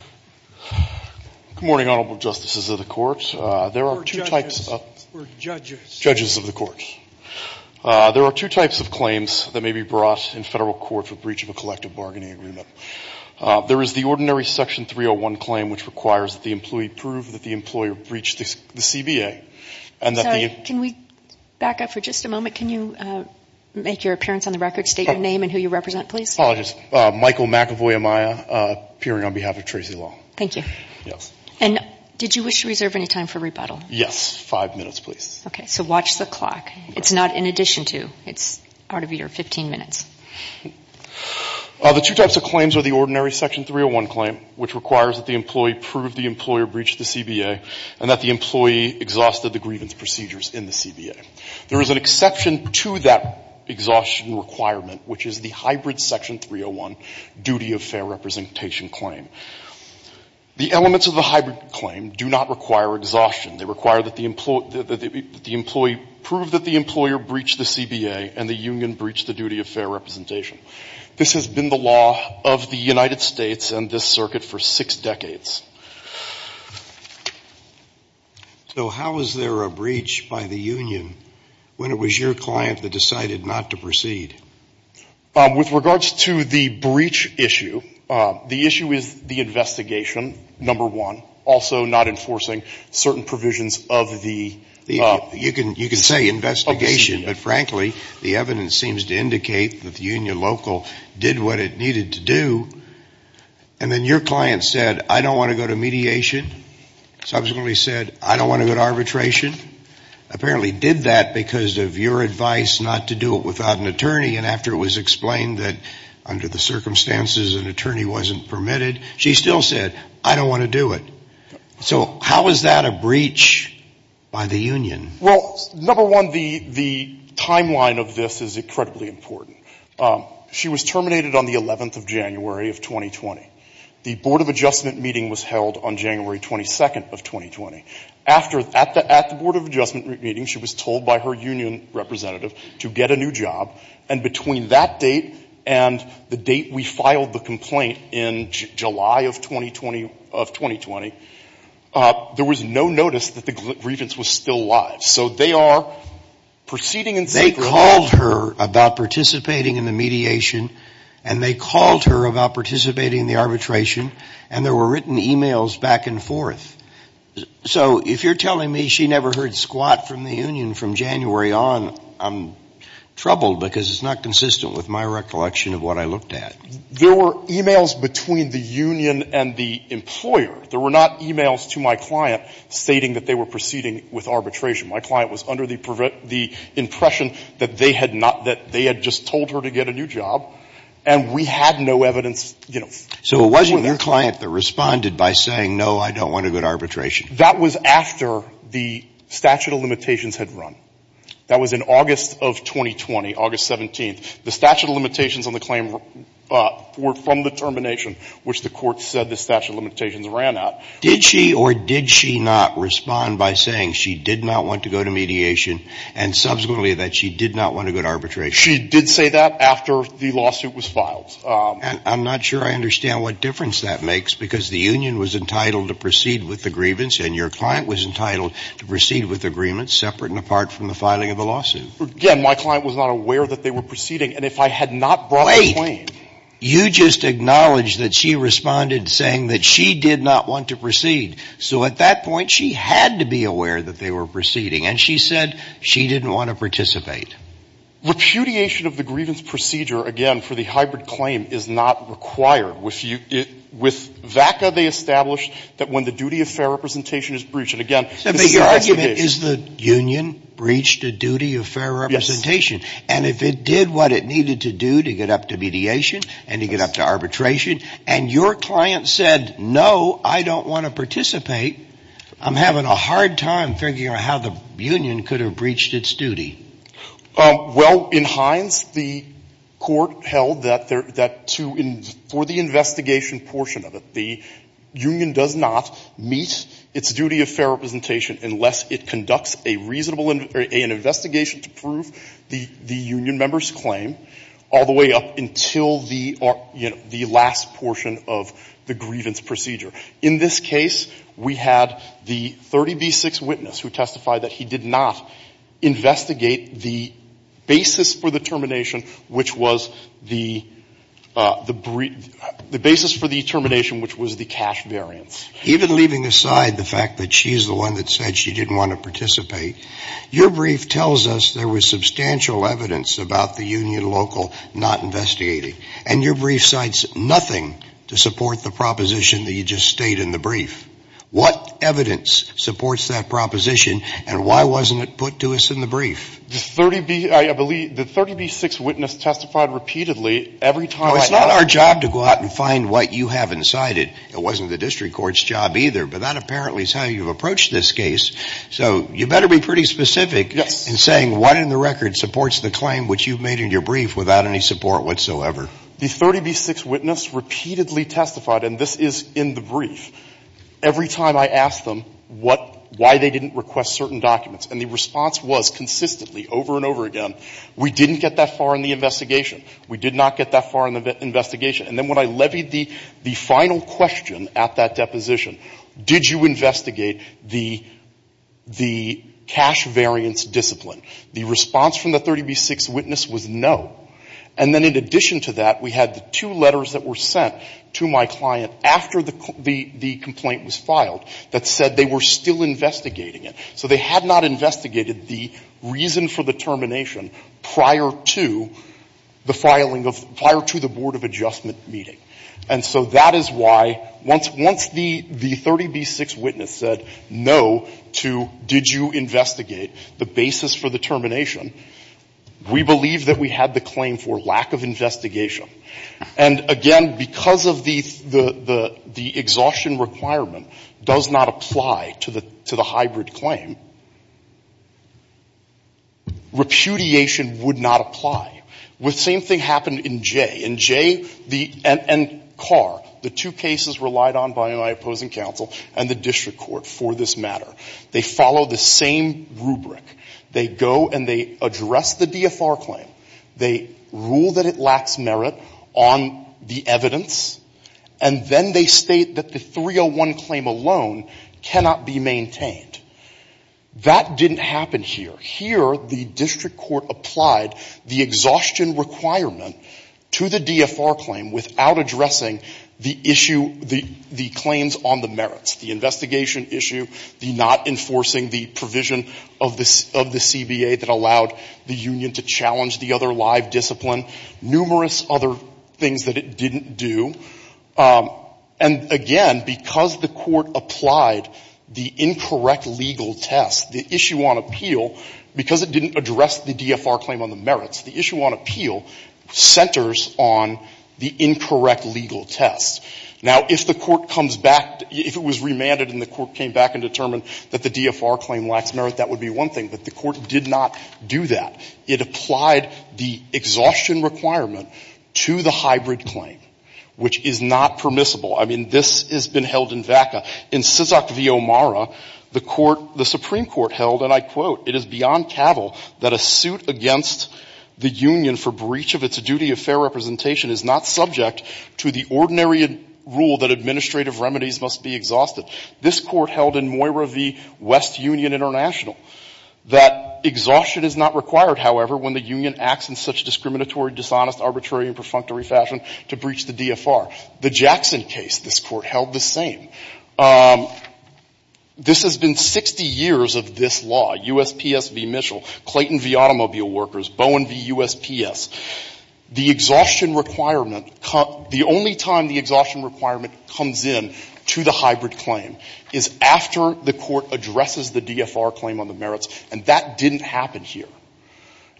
Good morning, Honorable Justices of the Court. We're judges. Judges of the Court. There are two types of claims that may be brought in federal court for breach of a collective bargaining agreement. There is the ordinary Section 301 claim, which requires that the employee prove that the employer breached the CBA. Sorry, can we back up for just a moment? Can you make your appearance on the record, state your name and who you represent, please? Apologies. Michael McEvoy Amaya, appearing on behalf of Tracey Lall. Thank you. Yes. And did you wish to reserve any time for rebuttal? Yes. Five minutes, please. Okay. So watch the clock. It's not in addition to. It's out of your 15 minutes. The two types of claims are the ordinary Section 301 claim, which requires that the employee prove the employer breached the CBA and that the employee exhausted the grievance procedures in the CBA. There is an exception to that exhaustion requirement, which is the hybrid Section 301 duty of fair representation claim. The elements of the hybrid claim do not require exhaustion. They require that the employee prove that the employer breached the CBA and the union breached the duty of fair representation. This has been the law of the United States and this circuit for six decades. So how is there a breach by the union when it was your client that decided not to proceed? With regards to the breach issue, the issue is the investigation, number one, also not enforcing certain provisions of the You can say investigation, but frankly, the evidence seems to indicate that the union local did what it needed to do. And then your client said, I don't want to go to mediation. Subsequently said, I don't want to go to arbitration. Apparently did that because of your advice not to do it without an attorney. And after it was explained that under the circumstances an attorney wasn't permitted, she still said, I don't want to do it. So how is that a breach by the union? Well, number one, the timeline of this is incredibly important. She was terminated on the 11th of January of 2020. The Board of Adjustment meeting was held on January 22nd of 2020. At the Board of Adjustment meeting, she was told by her union representative to get a new job. And between that date and the date we filed the complaint in July of 2020, there was no notice that the grievance was still live. So they are proceeding in secret. They called her about participating in the mediation, and they called her about participating in the arbitration, and there were written e-mails back and forth. So if you're telling me she never heard squat from the union from January on, I'm troubled because it's not consistent with my recollection of what I looked at. There were e-mails between the union and the employer. There were not e-mails to my client stating that they were proceeding with arbitration. My client was under the impression that they had just told her to get a new job, and we had no evidence. So it wasn't your client that responded by saying, no, I don't want to go to arbitration. That was after the statute of limitations had run. That was in August of 2020, August 17th. The statute of limitations on the claim were from the termination, which the court said the statute of limitations ran out. Did she or did she not respond by saying she did not want to go to mediation and subsequently that she did not want to go to arbitration? She did say that after the lawsuit was filed. And I'm not sure I understand what difference that makes, because the union was entitled to proceed with the grievance, and your client was entitled to proceed with the grievance separate and apart from the filing of the lawsuit. Again, my client was not aware that they were proceeding. And if I had not brought the claim. You just acknowledged that she responded saying that she did not want to proceed. So at that point, she had to be aware that they were proceeding, and she said she didn't want to participate. Repudiation of the grievance procedure, again, for the hybrid claim is not required. With VACA, they established that when the duty of fair representation is breached and, again, this is their explanation. Is the union breached a duty of fair representation? And if it did what it needed to do to get up to mediation and to get up to arbitration and your client said, no, I don't want to participate, I'm having a hard time figuring out how the union could have breached its duty. Well, in Hines, the court held that to the investigation portion of it, the union does not meet its duty of fair representation unless it conducts a reasonable investigation to prove the union member's claim all the way up until the last portion of the grievance procedure. In this case, we had the 30B6 witness who testified that he did not investigate the basis for the termination, which was the basis for the termination, which was the cash variance. Even leaving aside the fact that she's the one that said she didn't want to participate, your brief tells us there was substantial evidence about the union local not investigating. And your brief cites nothing to support the proposition that you just state in the brief. What evidence supports that proposition and why wasn't it put to us in the brief? The 30B6 witness testified repeatedly every time I asked. It's not our job to go out and find what you have inside it. It wasn't the district court's job either. But that apparently is how you've approached this case. So you better be pretty specific in saying what in the record supports the claim which you've made in your brief without any support whatsoever. The 30B6 witness repeatedly testified, and this is in the brief, every time I asked them what why they didn't request certain documents. And the response was consistently over and over again, we didn't get that far in the We did not get that far in the investigation. And then when I levied the final question at that deposition, did you investigate the cash variance discipline, the response from the 30B6 witness was no. And then in addition to that, we had the two letters that were sent to my client after the complaint was filed that said they were still investigating it. So they had not investigated the reason for the termination prior to the filing of prior to the board of adjustment meeting. And so that is why once the 30B6 witness said no to did you investigate the basis for the termination, we believe that we had the claim for lack of investigation. And again, because of the exhaustion requirement does not apply to the hybrid claim, repudiation would not apply. The same thing happened in J. In J and Carr, the two cases relied on by my opposing counsel and the district court for this matter. They follow the same rubric. They go and they address the DFR claim. They rule that it lacks merit on the evidence. And then they state that the 301 claim alone cannot be maintained. That didn't happen here. Here the district court applied the exhaustion requirement to the DFR claim without addressing the issue, the claims on the merits, the investigation issue, the not enforcing the provision of the CBA that allowed the union to challenge the other live discipline, numerous other things that it didn't do. And again, because the court applied the incorrect legal test, the issue on appeal because it didn't address the DFR claim on the merits, the issue on appeal centers on the incorrect legal test. Now, if the court comes back, if it was remanded and the court came back and determined that the DFR claim lacks merit, that would be one thing. But the court did not do that. It applied the exhaustion requirement to the hybrid claim, which is not permissible. I mean, this has been held in VACA. In Sysak v. O'Mara, the Supreme Court held, and I quote, it is beyond cavil that a suit against the union for breach of its duty of fair representation is not subject to the ordinary rule that administrative remedies must be exhausted. This court held in Moira v. West Union International that exhaustion is not required, however, when the union acts in such discriminatory, dishonest, arbitrary, and perfunctory fashion to breach the DFR. The Jackson case, this court held the same. This has been 60 years of this law, USPS v. Mitchell, Clayton v. Automobile Workers, Bowen v. USPS. The exhaustion requirement, the only time the exhaustion requirement comes in to the hybrid claim is after the court addresses the DFR claim on the merits, and that didn't happen here.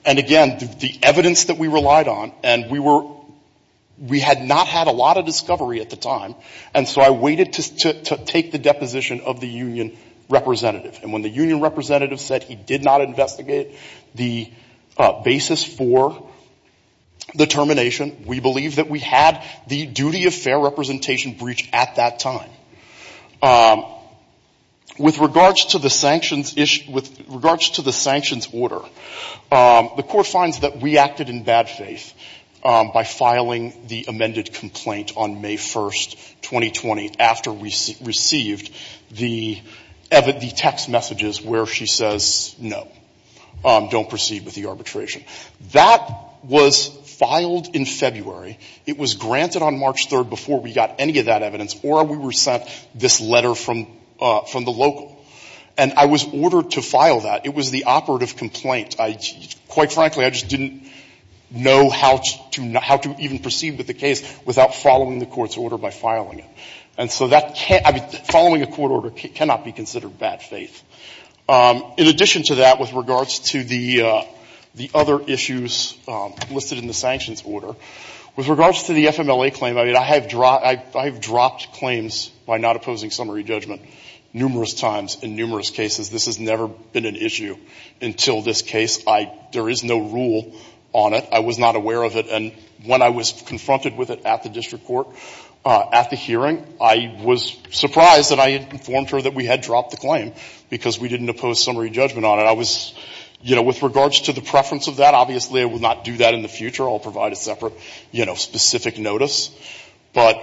And again, the evidence that we relied on, and we were, we had not had a lot of discovery at the time, and so I waited to take the deposition of the union representative. And when the union representative said he did not investigate the basis for the termination, we believe that we had the duty of fair representation breach at that time. With regards to the sanctions issue, with regards to the sanctions order, the court finds that we acted in bad faith by filing the amended complaint on May 1st, 2020, after we received the text messages where she says, no, don't proceed with the arbitration. That was filed in February. It was granted on March 3rd before we got any of that evidence, or we were sent this letter from the local. And I was ordered to file that. It was the operative complaint. I, quite frankly, I just didn't know how to even proceed with the case without following the court's order by filing it. And so that can't, I mean, following a court order cannot be considered bad faith. In addition to that, with regards to the other issues listed in the sanctions order, with regards to the FMLA claim, I mean, I have dropped claims by not opposing summary judgment numerous times in numerous cases. This has never been an issue until this case. There is no rule on it. I was not aware of it. And when I was confronted with it at the district court, at the hearing, I was surprised that I had informed her that we had dropped the claim because we didn't oppose summary judgment on it. I was, you know, with regards to the preference of that, obviously I will not do that in the future. I will provide a separate, you know, specific notice. But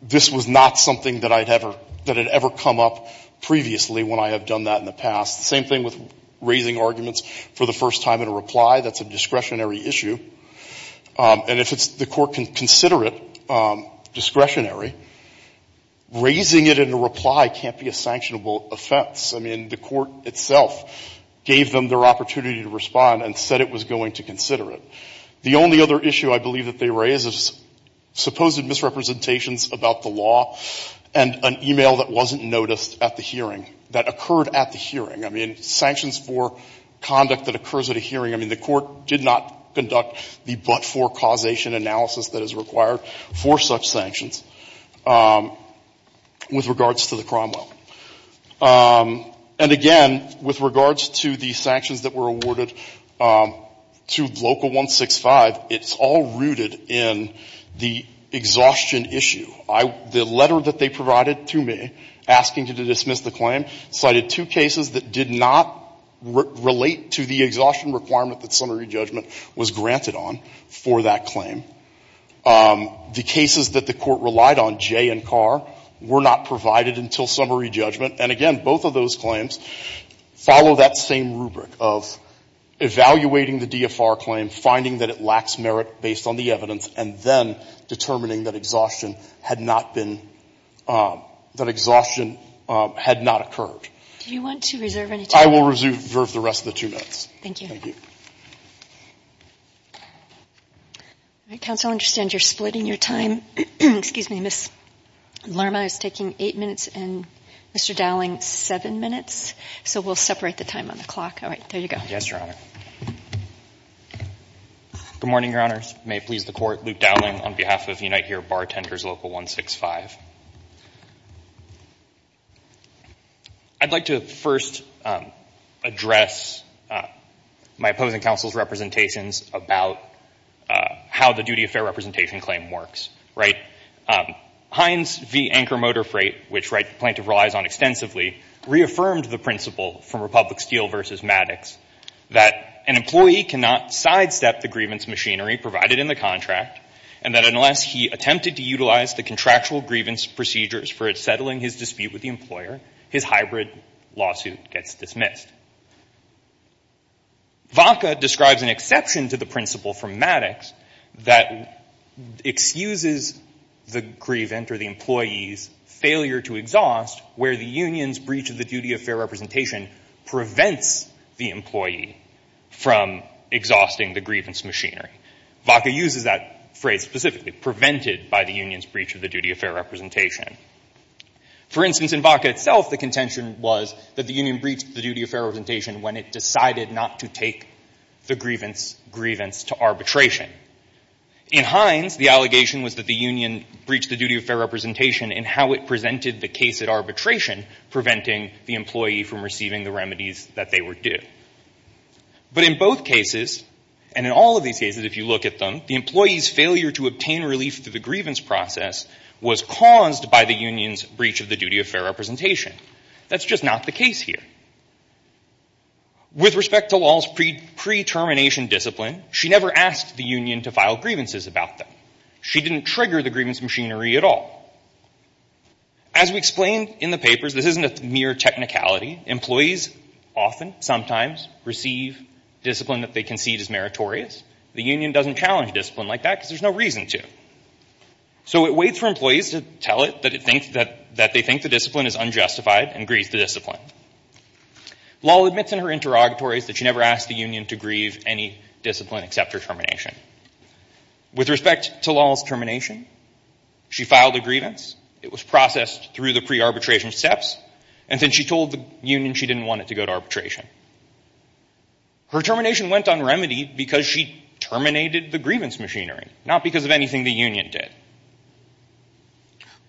this was not something that I had ever, that had ever come up previously when I have done that in the past. The same thing with raising arguments for the first time in a reply. That's a discretionary issue. And if it's, the court can consider it discretionary. Raising it in a reply can't be a sanctionable offense. I mean, the court itself gave them their opportunity to respond and said it was going to consider it. The only other issue I believe that they raised is supposed misrepresentations about the law and an e-mail that wasn't noticed at the hearing, that occurred at the hearing. I mean, sanctions for conduct that occurs at a hearing, I mean, the court did not conduct the but-for causation analysis that is required for such sanctions with regards to the Cromwell. And again, with regards to the sanctions that were awarded to Local 165, it's all rooted in the exhaustion issue. The letter that they provided to me asking to dismiss the claim cited two cases that did not relate to the exhaustion requirement that summary judgment was granted on for that claim. The cases that the court relied on, Jay and Carr, were not provided until summary judgment. And again, both of those claims follow that same rubric of evaluating the DFR claim, finding that it lacks merit based on the evidence, and then determining that exhaustion had not been, that exhaustion had not occurred. Do you want to reserve any time? I will reserve the rest of the two minutes. Thank you. Thank you. All right. Counsel, I understand you're splitting your time. Excuse me. Ms. Lerma is taking eight minutes and Mr. Dowling, seven minutes. So we'll separate the time on the clock. All right. There you go. Yes, Your Honor. Good morning, Your Honors. May it please the court. Luke Dowling on behalf of Unite Here Bartenders Local 165. I'd like to first address my opposing counsel's representations about how the duty of fair representation claim works, right? Heinz v. Anchor Motor Freight, which plaintiff relies on extensively, reaffirmed the principle from Republic Steel v. Maddox that an employee cannot sidestep the grievance machinery provided in the contract, and that unless he attempted to utilize the contractual grievance procedures for settling his dispute with the employer, his hybrid lawsuit gets dismissed. VOCA describes an exception to the principle from Maddox that excuses the grievant or the employee's failure to exhaust where the union's breach of the duty of fair representation prevents the employee from exhausting the grievance machinery. VOCA uses that phrase specifically, prevented by the union's breach of the duty of fair representation. For instance, in VOCA itself, the contention was that the union breached the duty of fair representation when it decided not to take the grievance to arbitration. In Heinz, the allegation was that the union breached the duty of fair representation in how it presented the case at arbitration, preventing the employee from receiving the remedies that they were due. But in both cases, and in all of these cases if you look at them, the employee's failure to obtain relief through the grievance process was caused by the union's breach of the duty of fair representation. That's just not the case here. With respect to Lal's pre-termination discipline, she never asked the union to file grievances about them. She didn't trigger the grievance machinery at all. As we explained in the papers, this isn't a mere technicality. Employees often, sometimes, receive discipline that they concede is meritorious. The union doesn't challenge discipline like that because there's no reason to. So it waits for employees to tell it that they think the discipline is unjustified and grieves the discipline. Lal admits in her interrogatories that she never asked the union to grieve any discipline except her termination. With respect to Lal's termination, she filed a grievance. It was processed through the pre-arbitration steps. And then she told the union she didn't want it to go to arbitration. Her termination went on remedy because she terminated the grievance machinery, not because of anything the union did.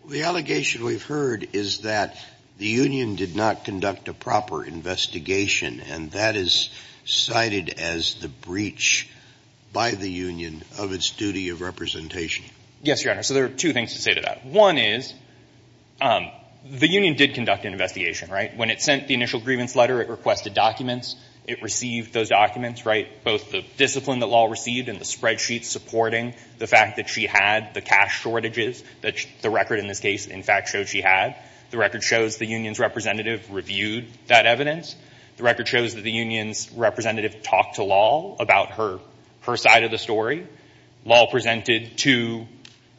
The allegation we've heard is that the union did not conduct a proper investigation and that is cited as the breach by the union of its duty of representation. Yes, Your Honor. So there are two things to say to that. One is the union did conduct an investigation. When it sent the initial grievance letter, it requested documents. It received those documents, both the discipline that Lal received and the spreadsheets supporting the fact that she had the cash shortages that the record in this case, in fact, showed she had. The record shows the union's representative reviewed that evidence. The record shows that the union's representative talked to Lal about her side of the story. Lal presented two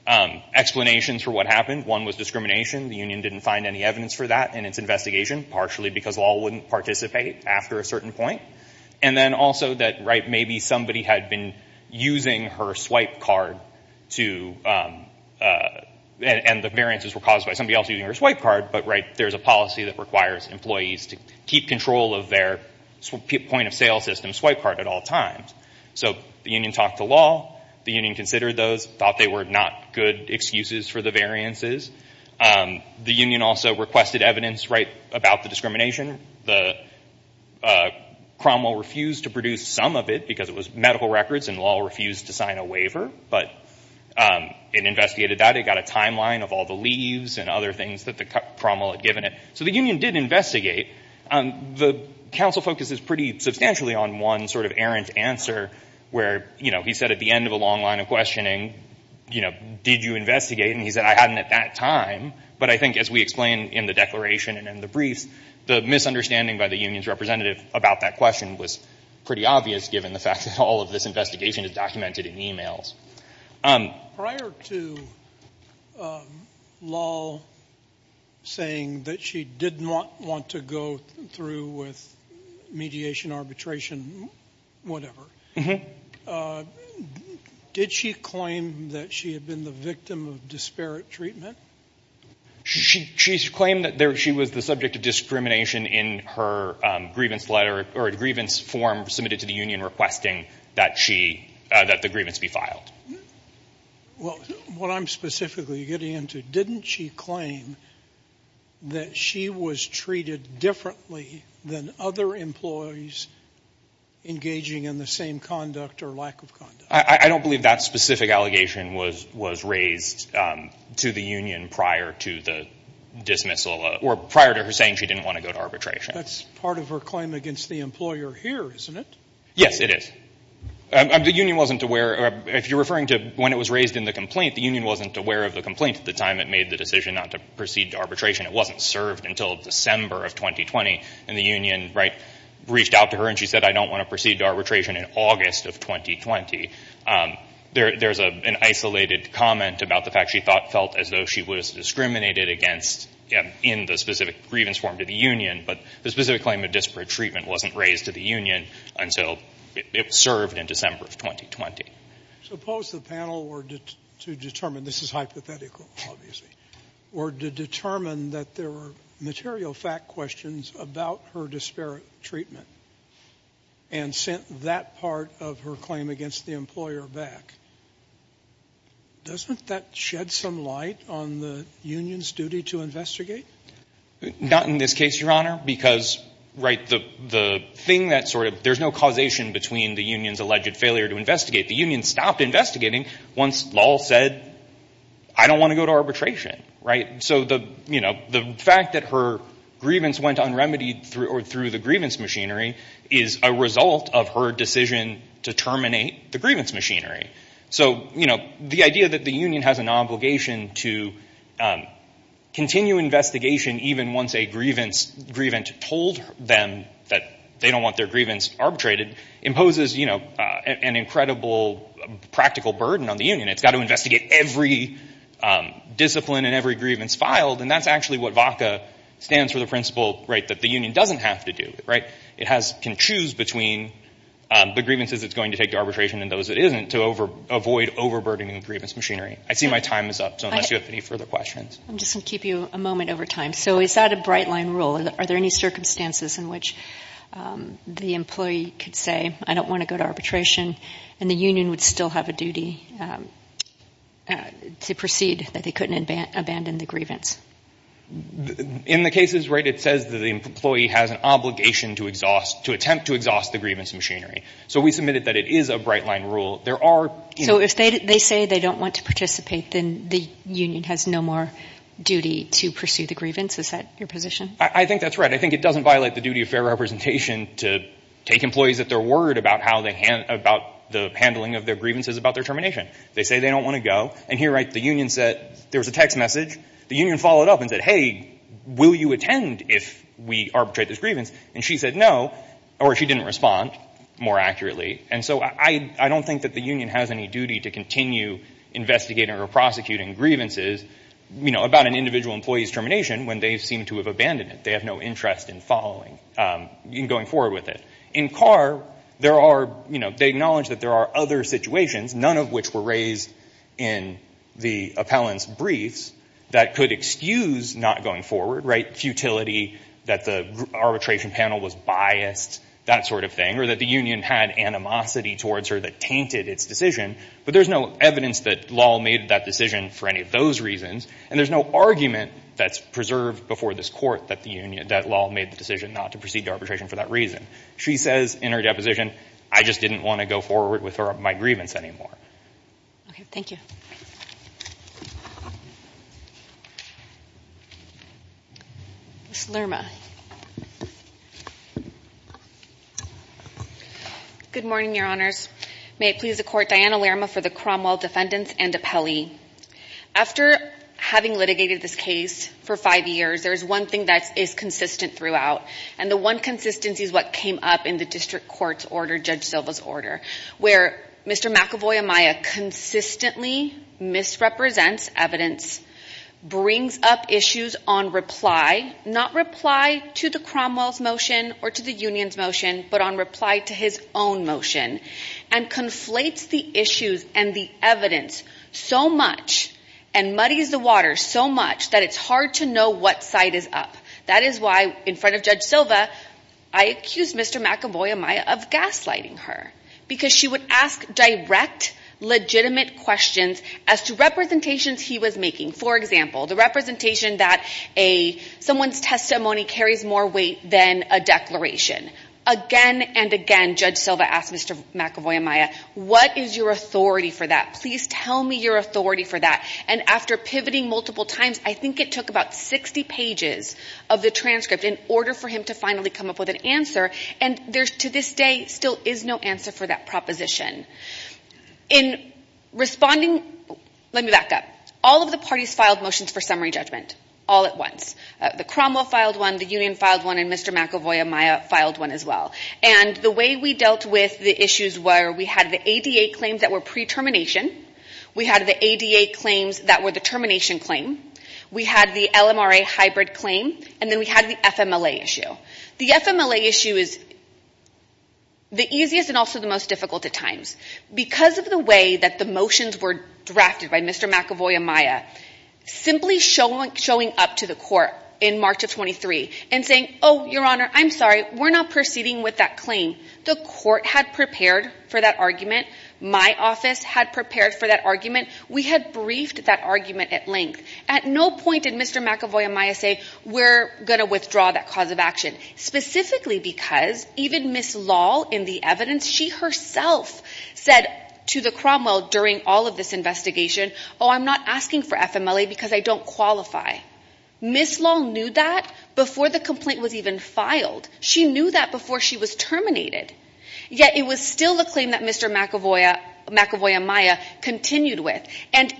explanations for what happened. One was discrimination. The union didn't find any evidence for that in its investigation, partially because Lal wouldn't participate after a certain point. And then also that maybe somebody had been using her swipe card to— and the variances were caused by somebody else using her swipe card, but there's a policy that requires employees to keep control of their point-of-sale system swipe card at all times. So the union talked to Lal, the union considered those, thought they were not good excuses for the variances. The union also requested evidence about the discrimination. The Cromwell refused to produce some of it because it was medical records and Lal refused to sign a waiver, but it investigated that. It got a timeline of all the leaves and other things that the Cromwell had given it. So the union did investigate. The counsel focuses pretty substantially on one sort of errant answer where, you know, he said at the end of a long line of questioning, you know, did you investigate? And he said, I hadn't at that time. But I think as we explain in the declaration and in the briefs, the misunderstanding by the union's representative about that question was pretty obvious given the fact that all of this investigation is documented in emails. Prior to Lal saying that she did not want to go through with mediation, arbitration, whatever, did she claim that she had been the victim of disparate treatment? She claimed that she was the subject of discrimination in her grievance letter or a grievance form submitted to the union requesting that the grievance be filed. Well, what I'm specifically getting into, didn't she claim that she was treated differently than other employees engaging in the same conduct or lack of conduct? I don't believe that specific allegation was raised to the union prior to the dismissal or prior to her saying she didn't want to go to arbitration. That's part of her claim against the employer here, isn't it? Yes, it is. The union wasn't aware. If you're referring to when it was raised in the complaint, the union wasn't aware of the complaint at the time it made the decision not to proceed to arbitration. It wasn't served until December of 2020. And the union reached out to her and she said, I don't want to proceed to arbitration in August of 2020. There's an isolated comment about the fact she felt as though she was discriminated against in the specific grievance form to the union. But the specific claim of disparate treatment wasn't raised to the union until it was served in December of 2020. Suppose the panel were to determine, this is hypothetical, obviously, were to determine that there were material fact questions about her disparate treatment and sent that part of her claim against the employer back. Doesn't that shed some light on the union's duty to investigate? Not in this case, Your Honor, because there's no causation between the union's alleged failure to investigate. The union stopped investigating once Lal said, I don't want to go to arbitration. So the fact that her grievance went unremitied through the grievance machinery is a result of her decision to terminate the grievance machinery. So the idea that the union has an obligation to continue investigation, even once a grievance told them that they don't want their grievance arbitrated, imposes an incredible practical burden on the union. It's got to investigate every discipline and every grievance filed. And that's actually what VACA stands for, the principle that the union doesn't have to do. It can choose between the grievances it's going to take to arbitration and those it isn't to avoid overburdening the grievance machinery. I see my time is up, so unless you have any further questions. I'm just going to keep you a moment over time. So is that a bright line rule? Are there any circumstances in which the employee could say, I don't want to go to arbitration, and the union would still have a duty to proceed, that they couldn't abandon the grievance? In the cases, right, it says that the employee has an obligation to attempt to exhaust the grievance machinery. So we submitted that it is a bright line rule. So if they say they don't want to participate, then the union has no more duty to pursue the grievance? Is that your position? I think that's right. I think it doesn't violate the duty of fair representation to take employees at their word about the handling of their grievances about their termination. They say they don't want to go. And here, right, the union said there was a text message. The union followed up and said, hey, will you attend if we arbitrate this grievance? And she said no, or she didn't respond more accurately. And so I don't think that the union has any duty to continue investigating or prosecuting grievances, you know, about an individual employee's termination when they seem to have abandoned it. They have no interest in following, in going forward with it. In Carr, there are, you know, they acknowledge that there are other situations, none of which were raised in the appellant's briefs, that could excuse not going forward, right, futility that the arbitration panel was biased, that sort of thing, or that the union had animosity towards her that tainted its decision. But there's no evidence that Law made that decision for any of those reasons, and there's no argument that's preserved before this court that Law made the decision not to proceed to arbitration for that reason. She says in her deposition, I just didn't want to go forward with my grievance anymore. Okay, thank you. Ms. Lerma. Good morning, Your Honors. May it please the Court, Diana Lerma for the Cromwell Defendants and Appellee. After having litigated this case for five years, there is one thing that is consistent throughout, and the one consistency is what came up in the district court's order, Judge Silva's order, where Mr. McAvoy-Amaya consistently misrepresents evidence, brings up issues on reply, not reply to the Cromwell's motion or to the union's motion, but on reply to his own motion, and conflates the issues and the evidence so much and muddies the water so much that it's hard to know what side is up. That is why, in front of Judge Silva, I accused Mr. McAvoy-Amaya of gaslighting her, because she would ask direct, legitimate questions as to representations he was making. For example, the representation that someone's testimony carries more weight than a declaration. Again and again, Judge Silva asked Mr. McAvoy-Amaya, what is your authority for that? Please tell me your authority for that. And after pivoting multiple times, I think it took about 60 pages of the transcript in order for him to finally come up with an answer, and there, to this day, still is no answer for that proposition. In responding, let me back up. All of the parties filed motions for summary judgment all at once. The Cromwell filed one, the union filed one, and Mr. McAvoy-Amaya filed one as well. And the way we dealt with the issues were we had the ADA claims that were pre-termination. We had the ADA claims that were the termination claim. We had the LMRA hybrid claim. And then we had the FMLA issue. The FMLA issue is the easiest and also the most difficult at times. Because of the way that the motions were drafted by Mr. McAvoy-Amaya, simply showing up to the court in March of 23 and saying, oh, Your Honor, I'm sorry, we're not proceeding with that claim. The court had prepared for that argument. My office had prepared for that argument. We had briefed that argument at length. At no point did Mr. McAvoy-Amaya say, we're going to withdraw that cause of action, specifically because even Ms. Lal in the evidence, she herself said to the Cromwell during all of this investigation, oh, I'm not asking for FMLA because I don't qualify. Ms. Lal knew that before the complaint was even filed. She knew that before she was terminated. Yet it was still a claim that Mr. McAvoy-Amaya continued with. And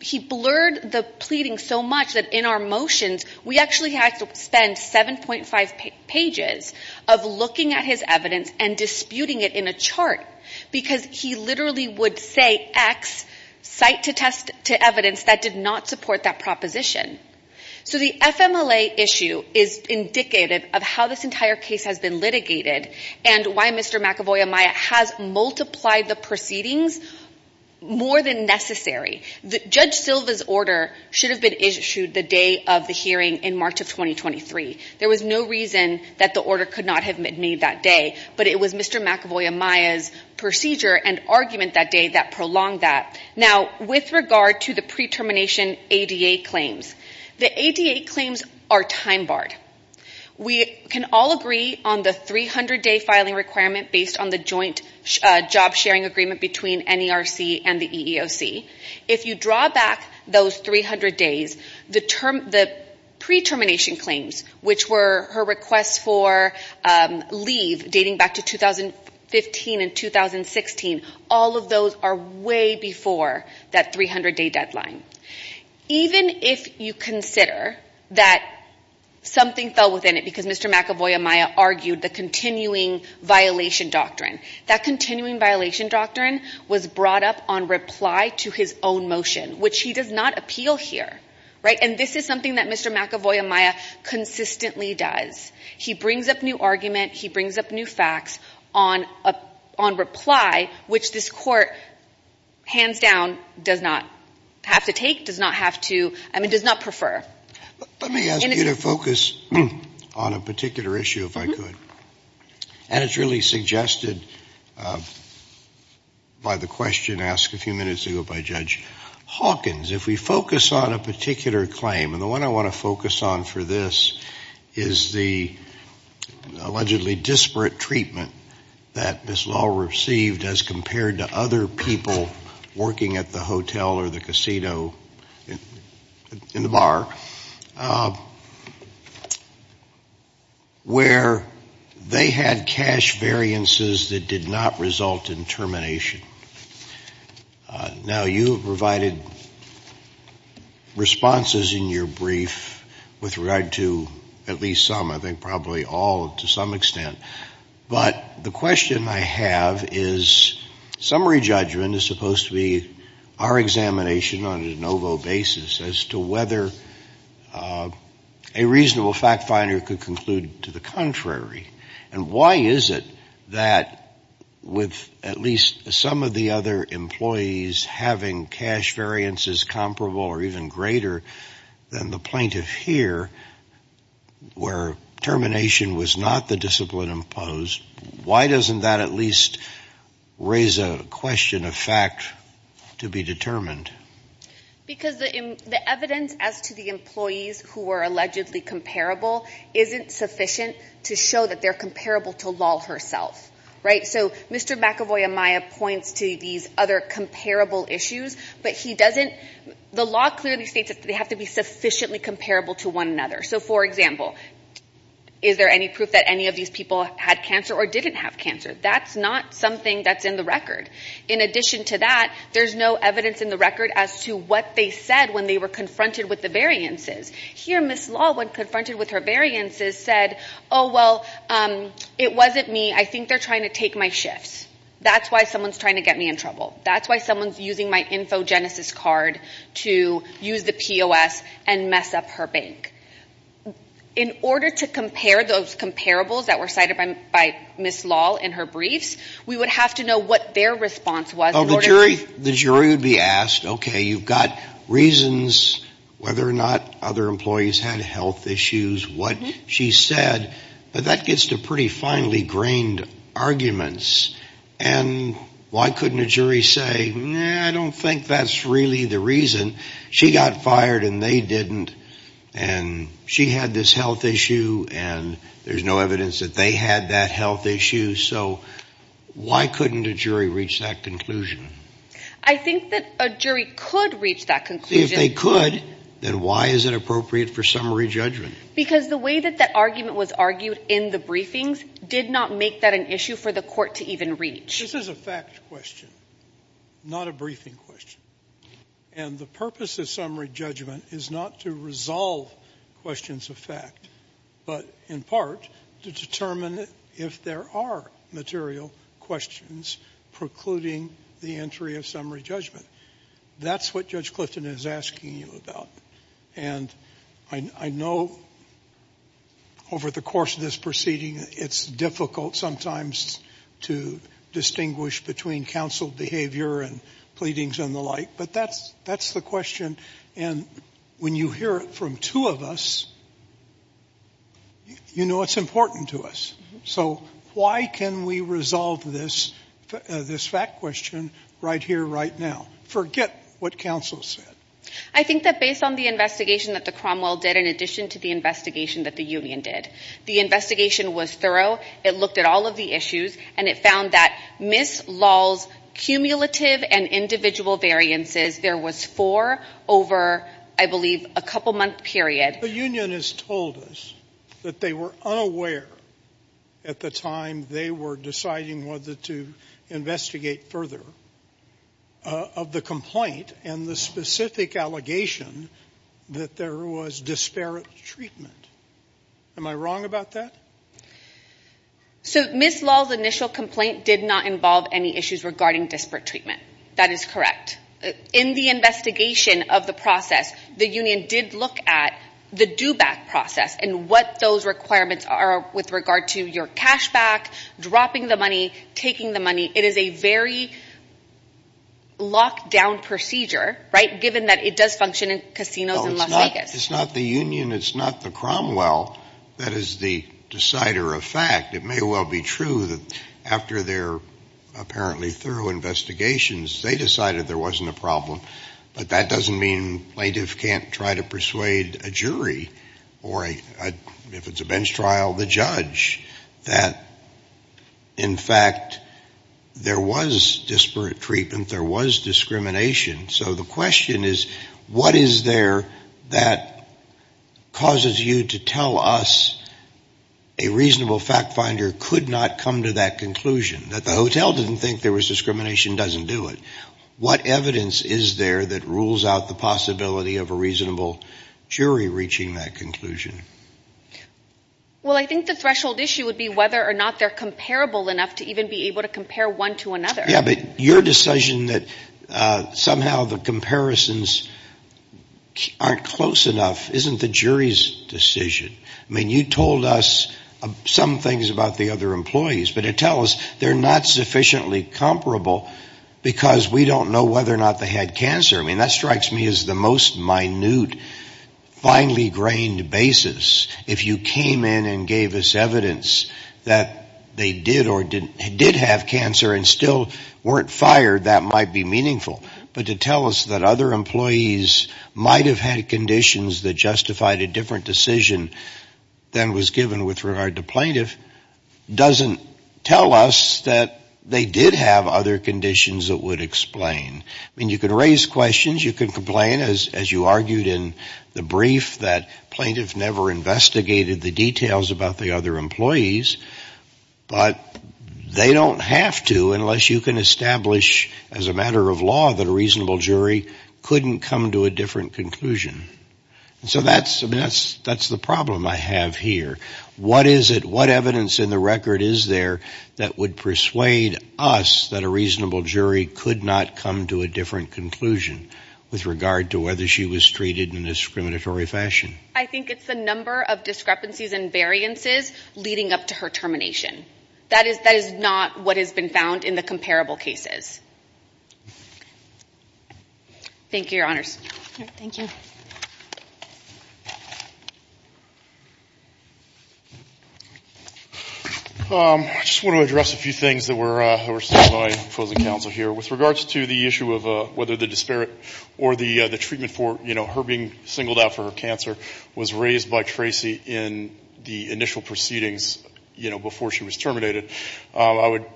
he blurred the pleading so much that in our motions, we actually had to spend 7.5 pages of looking at his evidence and disputing it in a chart. Because he literally would say X, cite to evidence that did not support that proposition. So the FMLA issue is indicative of how this entire case has been litigated and why Mr. McAvoy-Amaya has multiplied the proceedings more than necessary. Judge Silva's order should have been issued the day of the hearing in March of 2023. There was no reason that the order could not have been made that day. But it was Mr. McAvoy-Amaya's procedure and argument that day that prolonged that. Now, with regard to the pre-termination ADA claims, the ADA claims are time barred. We can all agree on the 300-day filing requirement based on the joint job sharing agreement between NERC and the EEOC. If you draw back those 300 days, the pre-termination claims, which were her requests for leave dating back to 2015 and 2016, all of those are way before that 300-day deadline. Even if you consider that something fell within it because Mr. McAvoy-Amaya argued the continuing violation doctrine, that continuing violation doctrine was brought up on reply to his own motion, which he does not appeal here. And this is something that Mr. McAvoy-Amaya consistently does. He brings up new argument. He brings up new facts on reply, which this Court, hands down, does not have to take, does not have to, I mean, does not prefer. Let me ask you to focus on a particular issue, if I could. And it's really suggested by the question asked a few minutes ago by Judge Hawkins. If we focus on a particular claim, and the one I want to focus on for this is the allegedly disparate treatment that Ms. Lahl received as compared to other people working at the hotel or the casino in the bar, where they had cash variances that did not result in termination. Now, you have provided responses in your brief with regard to at least some, I think probably all to some extent. But the question I have is summary judgment is supposed to be our examination on a de novo basis as to whether a reasonable fact finder could conclude to the contrary. And why is it that with at least some of the other employees having cash variances comparable or even greater than the plaintiff here, where termination was not the discipline imposed, why doesn't that at least raise a question of fact to be determined? Because the evidence as to the employees who were allegedly comparable isn't sufficient to show that they're comparable to Lahl herself. So Mr. McEvoy-Amaya points to these other comparable issues, but he doesn't – the law clearly states that they have to be sufficiently comparable to one another. So, for example, is there any proof that any of these people had cancer or didn't have cancer? That's not something that's in the record. In addition to that, there's no evidence in the record as to what they said when they were confronted with the variances. Here, Ms. Lahl, when confronted with her variances, said, oh, well, it wasn't me. I think they're trying to take my shifts. That's why someone's trying to get me in trouble. That's why someone's using my Infogenesis card to use the POS and mess up her bank. In order to compare those comparables that were cited by Ms. Lahl in her briefs, we would have to know what their response was. Oh, the jury would be asked, okay, you've got reasons whether or not other employees had health issues, what she said, but that gets to pretty finely grained arguments. And why couldn't a jury say, I don't think that's really the reason. She got fired and they didn't. And she had this health issue, and there's no evidence that they had that health issue. So why couldn't a jury reach that conclusion? I think that a jury could reach that conclusion. If they could, then why is it appropriate for summary judgment? Because the way that that argument was argued in the briefings did not make that an issue for the court to even reach. This is a fact question, not a briefing question. And the purpose of summary judgment is not to resolve questions of fact, but in part to determine if there are material questions precluding the entry of summary judgment. That's what Judge Clifton is asking you about. And I know over the course of this proceeding, it's difficult sometimes to distinguish between counsel behavior and pleadings and the like. But that's the question. And when you hear it from two of us, you know it's important to us. So why can we resolve this fact question right here, right now? Forget what counsel said. I think that based on the investigation that the Cromwell did, in addition to the investigation that the union did, the investigation was thorough, it looked at all of the issues, and it found that Ms. Lahl's cumulative and individual variances, there was four over, I believe, a couple-month period. The union has told us that they were unaware at the time they were deciding whether to investigate further of the complaint and the specific allegation that there was disparate treatment. Am I wrong about that? So Ms. Lahl's initial complaint did not involve any issues regarding disparate treatment. That is correct. In the investigation of the process, the union did look at the due back process and what those requirements are with regard to your cash back, dropping the money, taking the money. It is a very locked-down procedure, right, given that it does function in casinos in Las Vegas. It's not the union, it's not the Cromwell that is the decider of fact. It may well be true that after their apparently thorough investigations, they decided there wasn't a problem, but that doesn't mean plaintiffs can't try to persuade a jury or, if it's a bench trial, the judge that, in fact, there was disparate treatment, there was discrimination. So the question is, what is there that causes you to tell us a reasonable fact finder could not come to that conclusion? That the hotel didn't think there was discrimination doesn't do it. What evidence is there that rules out the possibility of a reasonable jury reaching that conclusion? Well, I think the threshold issue would be whether or not they're comparable enough to even be able to compare one to another. Yeah, but your decision that somehow the comparisons aren't close enough isn't the jury's decision. I mean, you told us some things about the other employees, but it tells they're not sufficiently comparable because we don't know whether or not they had cancer. I mean, that strikes me as the most minute, finely-grained basis. If you came in and gave us evidence that they did have cancer and still weren't fired, that might be meaningful. But to tell us that other employees might have had conditions that justified a different decision than was given with regard to plaintiff doesn't tell us that they did have other conditions that would explain. I mean, you can raise questions. You can complain, as you argued in the brief, that plaintiffs never investigated the details about the other employees. But they don't have to unless you can establish as a matter of law that a reasonable jury couldn't come to a different conclusion. So that's the problem I have here. What evidence in the record is there that would persuade us that a reasonable jury could not come to a different conclusion with regard to whether she was treated in a discriminatory fashion? I think it's the number of discrepancies and variances leading up to her termination. That is not what has been found in the comparable cases. Thank you, Your Honors. Thank you. I just want to address a few things that were said by opposing counsel here. With regards to the issue of whether the disparate or the treatment for her being singled out for her cancer was raised by Tracy in the initial proceedings before she was terminated, I would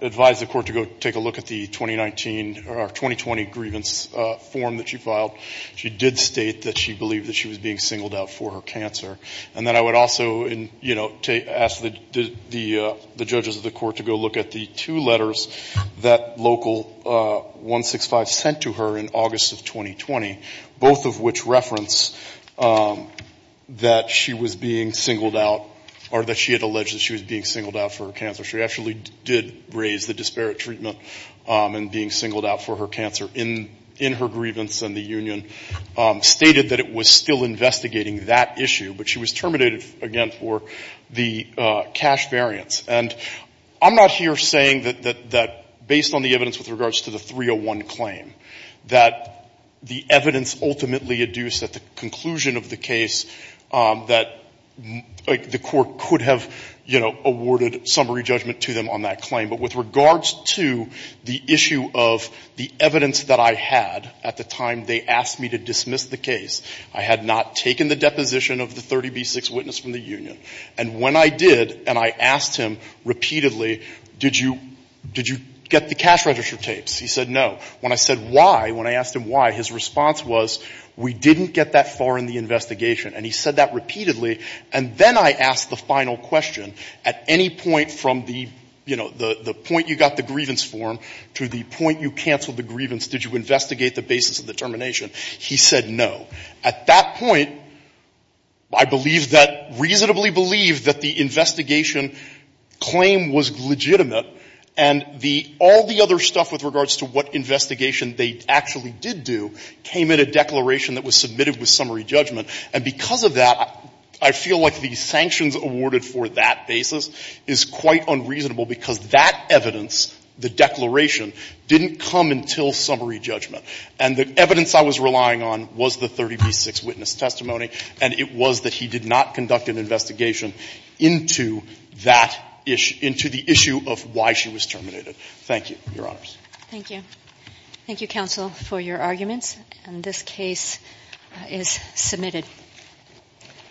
advise the Court to go take a look at the 2019 or 2020 grievance form that she filed. She did state that she believed that she was being singled out for her cancer. And then I would also ask the judges of the Court to go look at the two letters that Local 165 sent to her in August of 2020, both of which reference that she was being singled out or that she had alleged that she was being singled out for her cancer. She actually did raise the disparate treatment and being singled out for her cancer in her grievance. And the union stated that it was still investigating that issue, but she was terminated again for the cash variance. And I'm not here saying that based on the evidence with regards to the 301 claim, that the evidence ultimately adduced at the conclusion of the case, that the Court could have, you know, awarded summary judgment to them on that claim. But with regards to the issue of the evidence that I had at the time they asked me to dismiss the case, I had not taken the deposition of the 30B6 witness from the union. And when I did and I asked him repeatedly, did you get the cash register tapes, he said no. When I said why, when I asked him why, his response was we didn't get that far in the investigation. And he said that repeatedly. And then I asked the final question. At any point from the, you know, the point you got the grievance form to the point you canceled the grievance, did you investigate the basis of the termination? He said no. At that point, I believe that, reasonably believe that the investigation claim was legitimate. And the all the other stuff with regards to what investigation they actually did do came in a declaration that was submitted with summary judgment. And because of that, I feel like the sanctions awarded for that basis is quite unreasonable because that evidence, the declaration, didn't come until summary judgment. And the evidence I was relying on was the 30B6 witness testimony, and it was that he did not conduct an investigation into that issue, into the issue of why she was terminated. Thank you, Your Honors. Thank you. Thank you, counsel, for your arguments. And this case is submitted.